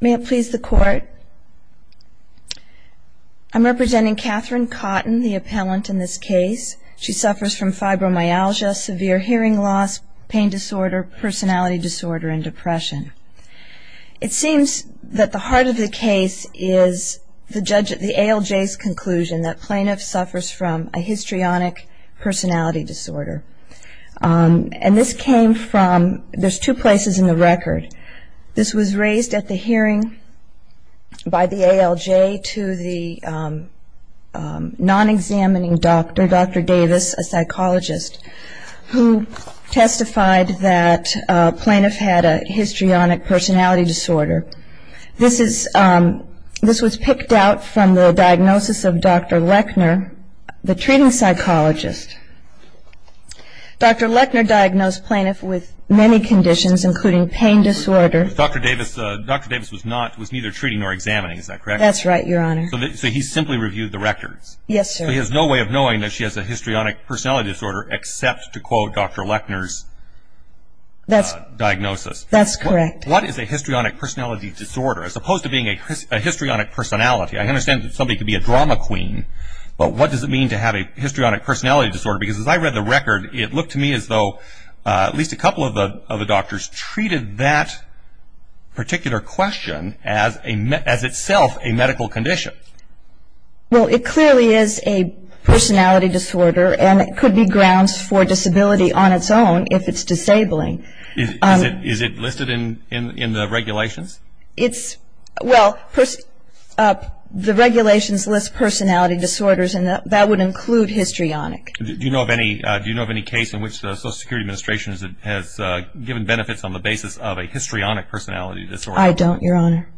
May it please the Court, I'm representing Catherine Cotton, the appellant in this case. She suffers from fibromyalgia, severe hearing loss, pain disorder, personality disorder, and depression. It seems that the heart of the case is the ALJ's conclusion that plaintiff suffers from a histrionic personality disorder. And this came from, there's two places in the record. This was raised at the hearing by the ALJ to the non-examining doctor, Dr. Davis, a psychologist, who testified that plaintiff had a histrionic personality disorder. This was picked out from the diagnosis of Dr. Lechner, the treating psychologist. Dr. Lechner diagnosed plaintiff with many conditions, including pain disorder. Dr. Davis was neither treating nor examining, is that correct? That's right, Your Honor. So he simply reviewed the records. Yes, sir. So he has no way of knowing that she has a histrionic personality disorder except to quote Dr. Lechner's diagnosis. That's correct. What is a histrionic personality disorder? As opposed to being a histrionic personality, I understand that somebody could be a drama queen, but what does it mean to have a histrionic personality disorder? Because as I read the record, it looked to me as though at least a couple of the doctors treated that particular question as itself a medical condition. Well, it clearly is a personality disorder, and it could be grounds for disability on its own if it's disabling. Is it listed in the regulations? Well, the regulations list personality disorders, and that would include histrionic. Do you know of any case in which the Social Security Administration has given benefits on the basis of a histrionic personality disorder? I don't, Your Honor.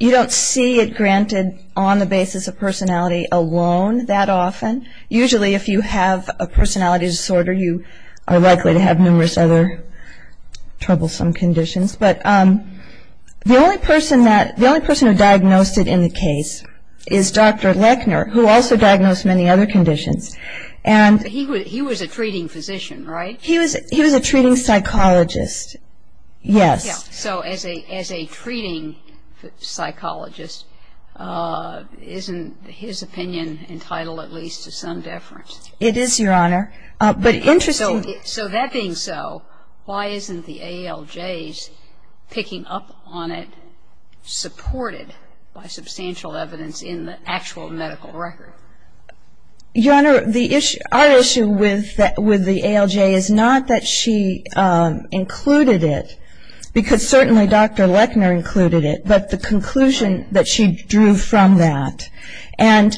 You don't see it granted on the basis of personality alone that often. Usually if you have a personality disorder, you are likely to have numerous other troublesome conditions. But the only person who diagnosed it in the case is Dr. Lechner, who also diagnosed many other conditions. He was a treating physician, right? He was a treating psychologist, yes. Yeah, so as a treating psychologist, isn't his opinion entitled at least to some deference? It is, Your Honor. So that being so, why isn't the ALJ's picking up on it supported by substantial evidence in the actual medical record? Your Honor, our issue with the ALJ is not that she included it, because certainly Dr. Lechner included it, but the conclusion that she drew from that. And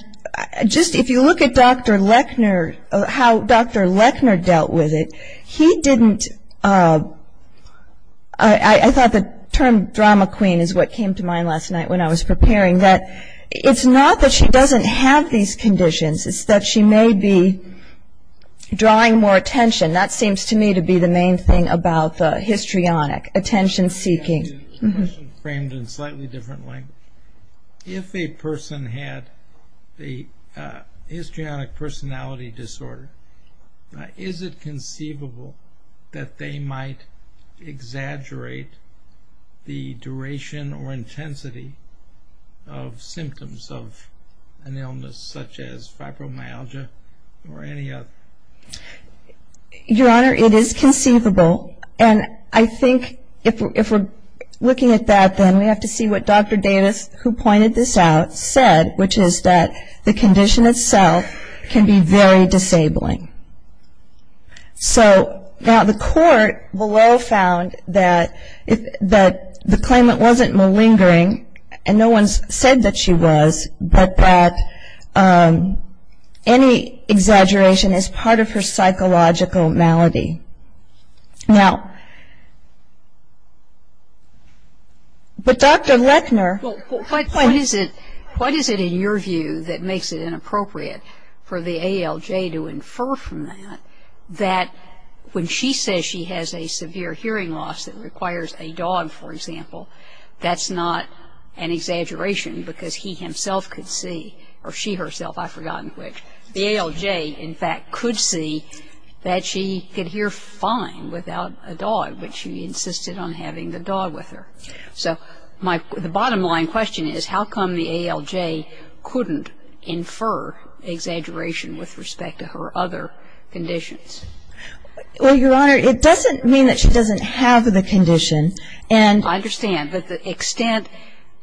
just if you look at Dr. Lechner, how Dr. Lechner dealt with it, he didn't. I thought the term drama queen is what came to mind last night when I was preparing that It's not that she doesn't have these conditions, it's that she may be drawing more attention. That seems to me to be the main thing about the histrionic, attention-seeking. A question framed in slightly different language. If a person had the histrionic personality disorder, is it conceivable that they might exaggerate the duration or intensity of symptoms of an illness such as fibromyalgia or any other? Your Honor, it is conceivable. And I think if we're looking at that, then we have to see what Dr. Davis, who pointed this out, said, which is that the condition itself can be very disabling. So now the court below found that the claimant wasn't malingering, and no one said that she was, but that any exaggeration is part of her psychological malady. Now, but Dr. Lechner What is it in your view that makes it inappropriate for the ALJ to infer from that that when she says she has a severe hearing loss that requires a dog, for example, that's not an exaggeration because he himself could see, or she herself, I've forgotten which, the ALJ in fact could see that she could hear fine without a dog, but she insisted on having the dog with her. So the bottom line question is how come the ALJ couldn't infer exaggeration with respect to her other conditions? Well, Your Honor, it doesn't mean that she doesn't have the condition, and I understand, but the extent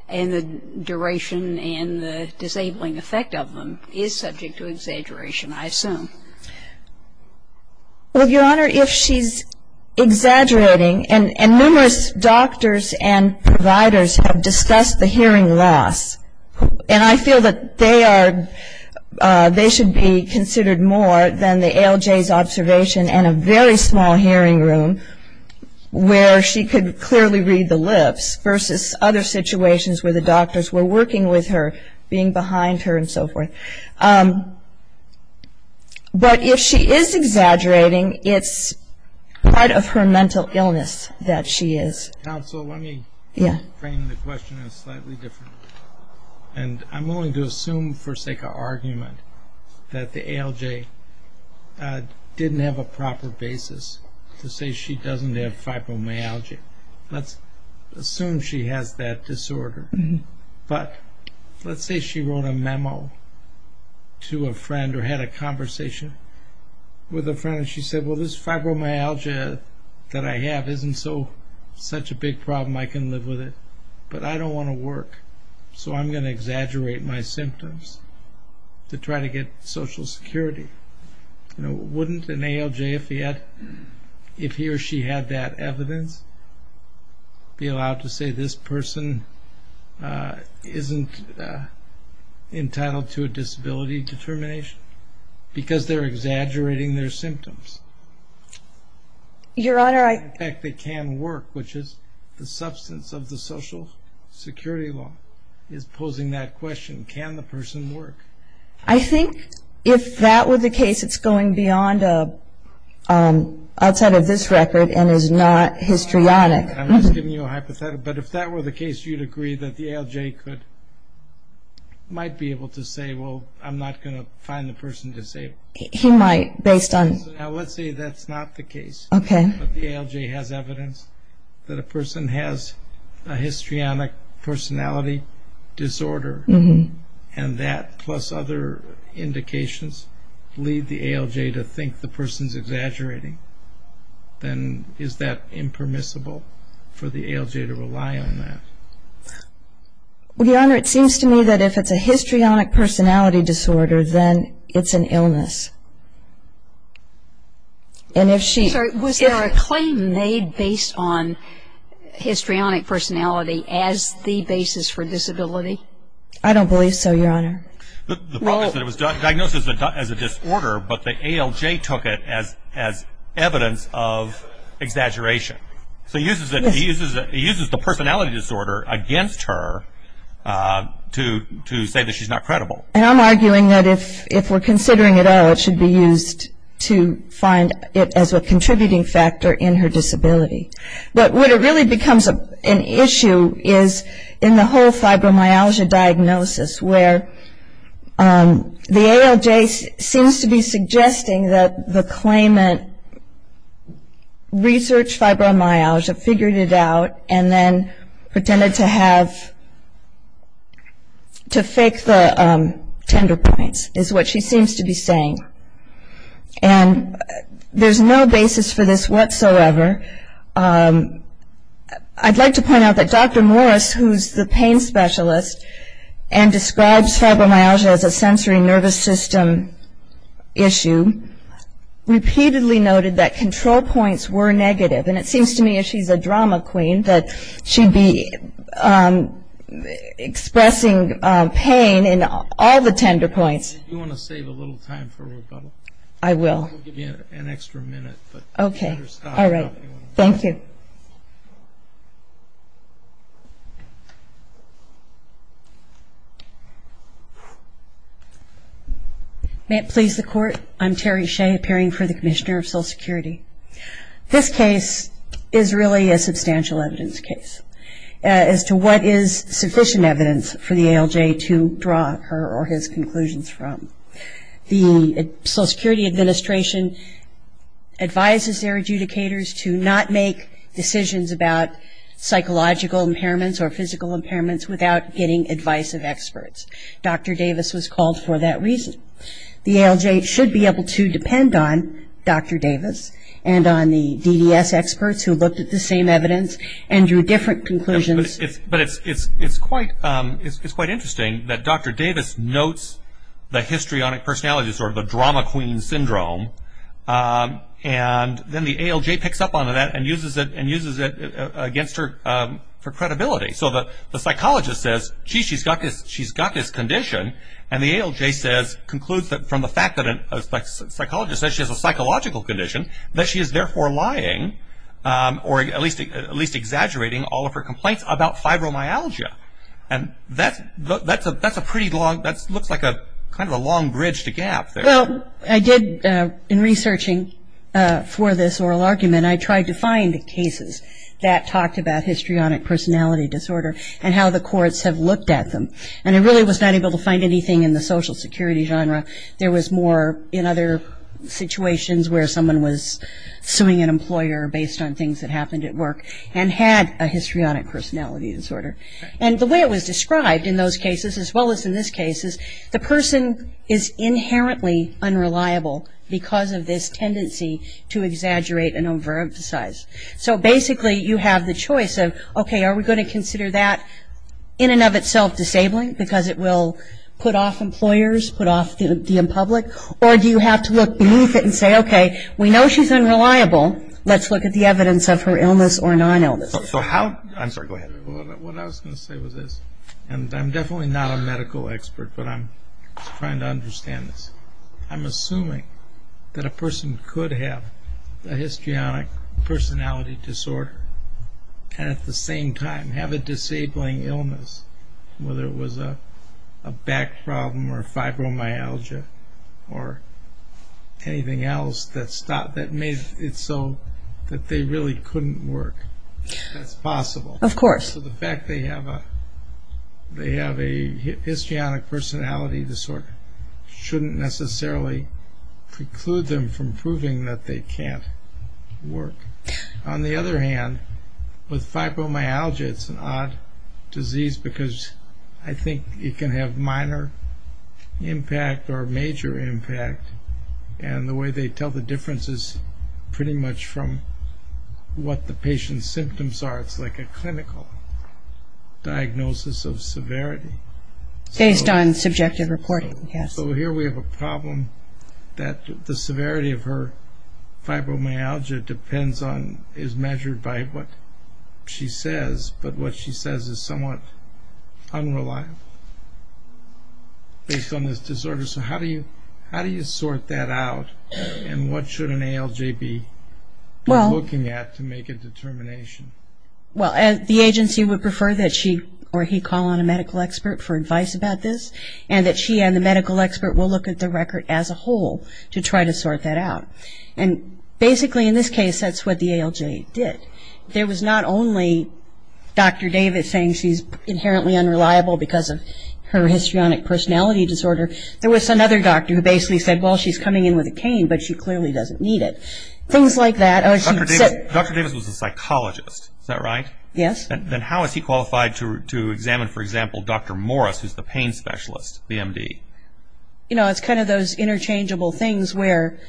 and the duration and the disabling effect of them is subject to exaggeration, I assume. Well, Your Honor, if she's exaggerating, and numerous doctors and providers have discussed the hearing loss, and I feel that they are, they should be considered more than the ALJ's observation in a very small hearing room where she could clearly read the lips versus other situations where the doctors were working with her, being behind her and so forth. But if she is exaggerating, it's part of her mental illness that she is. Counsel, let me frame the question slightly differently, and I'm willing to assume for sake of argument that the ALJ didn't have a proper basis to say she doesn't have fibromyalgia. Let's assume she has that disorder. But let's say she wrote a memo to a friend or had a conversation with a friend, and she said, well, this fibromyalgia that I have isn't such a big problem. I can live with it, but I don't want to work, so I'm going to exaggerate my symptoms to try to get Social Security. Wouldn't an ALJ, if he or she had that evidence, be allowed to say this person isn't entitled to a disability determination because they're exaggerating their symptoms? Your Honor, I... In fact, they can work, which is the substance of the Social Security law, is posing that question, can the person work? I think if that were the case, it's going beyond outside of this record and is not histrionic. I'm just giving you a hypothetical, but if that were the case, you'd agree that the ALJ might be able to say, well, I'm not going to find the person disabled. He might, based on... Let's say that's not the case. Okay. But the ALJ has evidence that a person has a histrionic personality disorder, and that plus other indications lead the ALJ to think the person's exaggerating, then is that impermissible for the ALJ to rely on that? Your Honor, it seems to me that if it's a histrionic personality disorder, then it's an illness. And if she... based on histrionic personality as the basis for disability? I don't believe so, Your Honor. The problem is that it was diagnosed as a disorder, but the ALJ took it as evidence of exaggeration. So he uses the personality disorder against her to say that she's not credible. And I'm arguing that if we're considering it at all, it should be used to find it as a contributing factor in her disability. But what really becomes an issue is in the whole fibromyalgia diagnosis, where the ALJ seems to be suggesting that the claimant researched fibromyalgia, figured it out, and then pretended to fake the tender points, is what she seems to be saying. And there's no basis for this whatsoever. I'd like to point out that Dr. Morris, who's the pain specialist and describes fibromyalgia as a sensory nervous system issue, repeatedly noted that control points were negative. And it seems to me, as she's a drama queen, that she'd be expressing pain in all the tender points. Do you want to save a little time for rebuttal? I will. I'll give you an extra minute. Okay. All right. Thank you. May it please the Court. I'm Terry Shea, appearing for the Commissioner of Social Security. This case is really a substantial evidence case as to what is sufficient evidence for the ALJ to draw her or his conclusions from. The Social Security Administration advises their adjudicators to not make decisions about psychological impairments or physical impairments without getting advice of experts. Dr. Davis was called for that reason. The ALJ should be able to depend on Dr. Davis and on the DDS experts who looked at the same evidence and drew different conclusions. But it's quite interesting that Dr. Davis notes the histrionic personality disorder, the drama queen syndrome, and then the ALJ picks up on that and uses it against her for credibility. So the psychologist says, gee, she's got this condition, and the ALJ concludes from the fact that a psychologist says she has a psychological condition that she is therefore lying or at least exaggerating all of her complaints about fibromyalgia. And that looks like kind of a long bridge to gap there. Well, I did, in researching for this oral argument, I tried to find cases that talked about histrionic personality disorder and how the courts have looked at them. And I really was not able to find anything in the social security genre. There was more in other situations where someone was suing an employer based on things that happened at work and had a histrionic personality disorder. And the way it was described in those cases, as well as in this case, is the person is inherently unreliable because of this tendency to exaggerate and overemphasize. So basically you have the choice of, okay, are we going to consider that in and of itself disabling because it will put off employers, put off the public? Or do you have to look beneath it and say, okay, we know she's unreliable. Let's look at the evidence of her illness or non-illness. I'm sorry, go ahead. What I was going to say was this. And I'm definitely not a medical expert, but I'm trying to understand this. I'm assuming that a person could have a histrionic personality disorder and at the same time have a disabling illness, whether it was a back problem or fibromyalgia or anything else that made it so that they really couldn't work. That's possible. Of course. So the fact they have a histrionic personality disorder shouldn't necessarily preclude them from proving that they can't work. On the other hand, with fibromyalgia, it's an odd disease because I think it can have minor impact or major impact. And the way they tell the difference is pretty much from what the patient's symptoms are. It's like a clinical diagnosis of severity. Based on subjective reporting, yes. So here we have a problem that the severity of her fibromyalgia depends on, is measured by what she says, but what she says is somewhat unreliable based on this disorder. So how do you sort that out and what should an ALJ be looking at to make a determination? Well, the agency would prefer that she or he call on a medical expert for advice about this and that she and the medical expert will look at the record as a whole to try to sort that out. And basically in this case, that's what the ALJ did. There was not only Dr. David saying she's inherently unreliable because of her histrionic personality disorder. There was another doctor who basically said, well, she's coming in with a cane, but she clearly doesn't need it. Things like that. Dr. Davis was a psychologist. Is that right? Yes. Then how is he qualified to examine, for example, Dr. Morris, who's the pain specialist, the MD? You know, it's kind of those interchangeable things where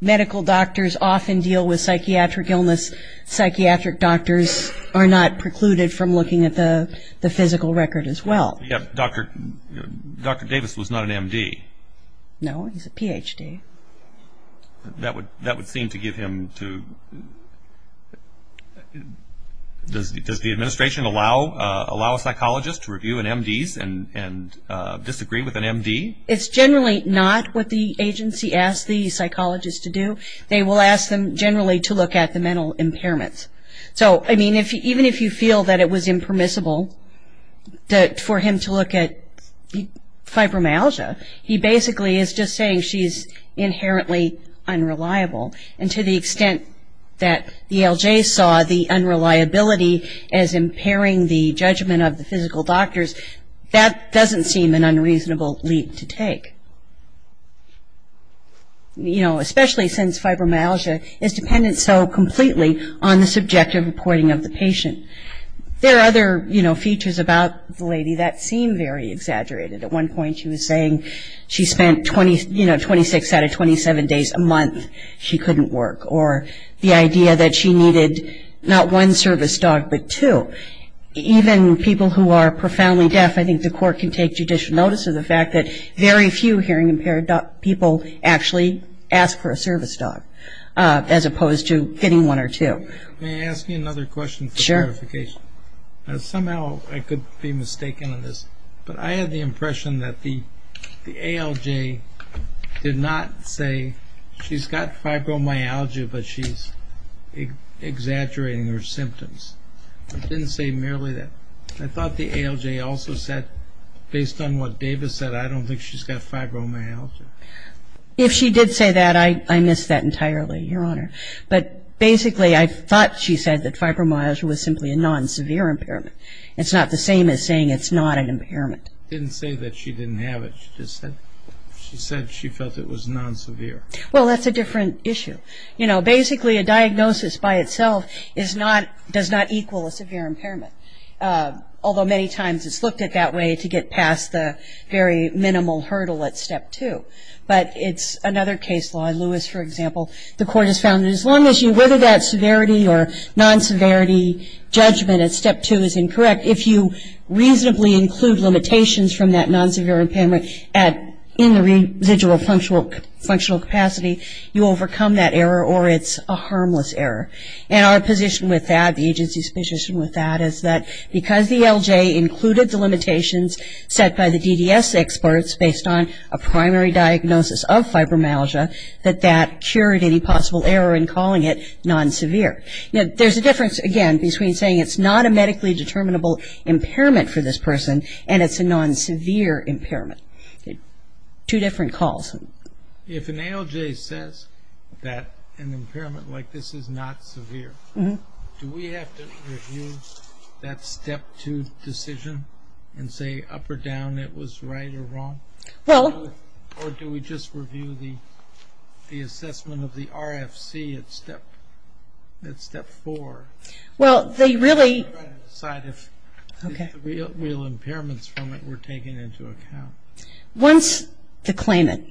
medical doctors often deal with psychiatric illness. Psychiatric doctors are not precluded from looking at the physical record as well. Dr. Davis was not an MD. No, he's a PhD. That would seem to give him to – does the administration allow a psychologist to review an MD and disagree with an MD? It's generally not what the agency asks the psychologist to do. They will ask them generally to look at the mental impairments. So, I mean, even if you feel that it was impermissible for him to look at fibromyalgia, he basically is just saying she's inherently unreliable. And to the extent that the ALJ saw the unreliability as impairing the judgment of the physical doctors, that doesn't seem an unreasonable leap to take. You know, especially since fibromyalgia is dependent so completely on the subjective reporting of the patient. There are other, you know, features about the lady that seem very exaggerated. At one point she was saying she spent, you know, 26 out of 27 days a month she couldn't work, or the idea that she needed not one service dog but two. Even people who are profoundly deaf, I think the court can take judicial notice of the fact that very few hearing impaired people actually ask for a service dog as opposed to getting one or two. May I ask you another question for clarification? Sure. Somehow I could be mistaken on this, but I had the impression that the ALJ did not say she's got fibromyalgia but she's exaggerating her symptoms. It didn't say merely that. I thought the ALJ also said, based on what David said, I don't think she's got fibromyalgia. If she did say that, I miss that entirely, Your Honor. But basically I thought she said that fibromyalgia was simply a non-severe impairment. It's not the same as saying it's not an impairment. It didn't say that she didn't have it. She just said she felt it was non-severe. Well, that's a different issue. You know, basically a diagnosis by itself does not equal a severe impairment, although many times it's looked at that way to get past the very minimal hurdle at step two. But it's another case law. In Lewis, for example, the court has found that as long as you whether that severity or non-severity judgment at step two is incorrect, if you reasonably include limitations from that non-severe impairment in the residual functional capacity, you overcome that error or it's a harmless error. And our position with that, the agency's position with that, is that because the ALJ included the limitations set by the DDS experts based on a primary diagnosis of fibromyalgia, that that cured any possible error in calling it non-severe. Now, there's a difference, again, between saying it's not a medically determinable impairment for this person and it's a non-severe impairment. Two different calls. If an ALJ says that an impairment like this is not severe, do we have to review that step two decision and say up or down it was right or wrong? Well... Or do we just review the assessment of the RFC at step four? Well, they really... Decide if the real impairments from it were taken into account. Once the claimant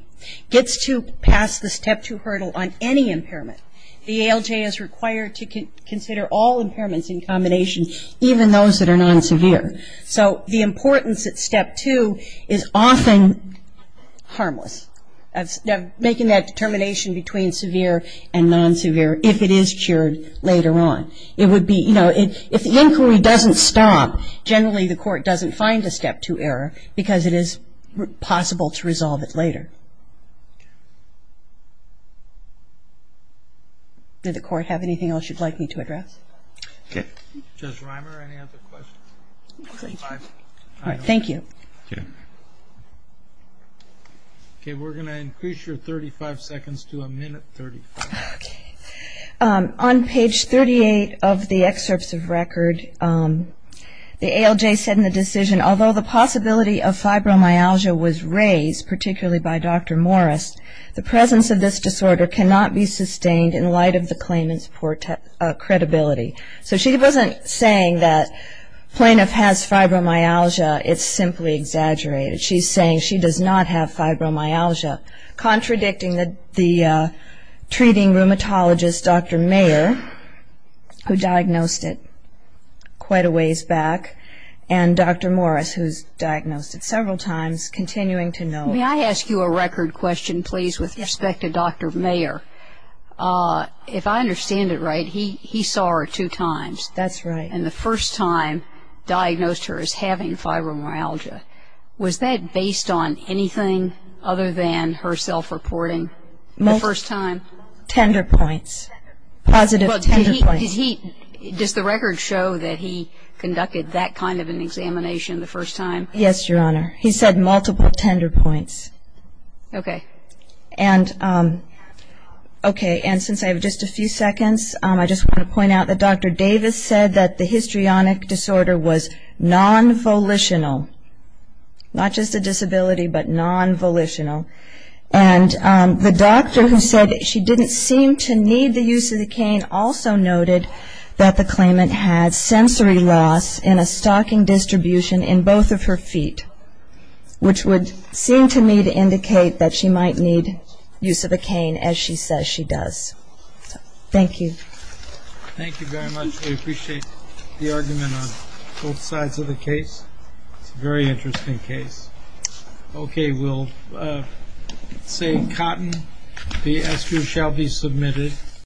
gets to pass the step two hurdle on any impairment, the ALJ is required to consider all impairments in combination, even those that are non-severe. So the importance at step two is often harmless, making that determination between severe and non-severe if it is cured later on. It would be, you know, if the inquiry doesn't stop, generally the court doesn't find a step two error because it is possible to resolve it later. Did the court have anything else you'd like me to address? Okay. Judge Reimer, any other questions? Thank you. Okay. Okay, we're going to increase your 35 seconds to a minute 35. On page 38 of the excerpts of record, the ALJ said in the decision, although the possibility of fibromyalgia was raised, particularly by Dr. Morris, the presence of this disorder cannot be sustained in light of the claimant's poor credibility. So she wasn't saying that plaintiff has fibromyalgia, it's simply exaggerated. She's saying she does not have fibromyalgia, contradicting the treating rheumatologist, Dr. Mayer, who diagnosed it quite a ways back, and Dr. Morris, who's diagnosed it several times, continuing to know. May I ask you a record question, please, with respect to Dr. Mayer? If I understand it right, he saw her two times. That's right. And the first time diagnosed her as having fibromyalgia. Was that based on anything other than her self-reporting the first time? Tender points, positive tender points. Does the record show that he conducted that kind of an examination the first time? Yes, Your Honor. He said multiple tender points. Okay. And since I have just a few seconds, I just want to point out that Dr. Davis said that the histrionic disorder was non-volitional. Not just a disability, but non-volitional. And the doctor who said she didn't seem to need the use of the cane also noted that the claimant had sensory loss in a stocking distribution in both of her feet, which would seem to me to indicate that she might need use of a cane, as she says she does. Thank you. Thank you very much. We appreciate the argument on both sides of the case. It's a very interesting case. Okay.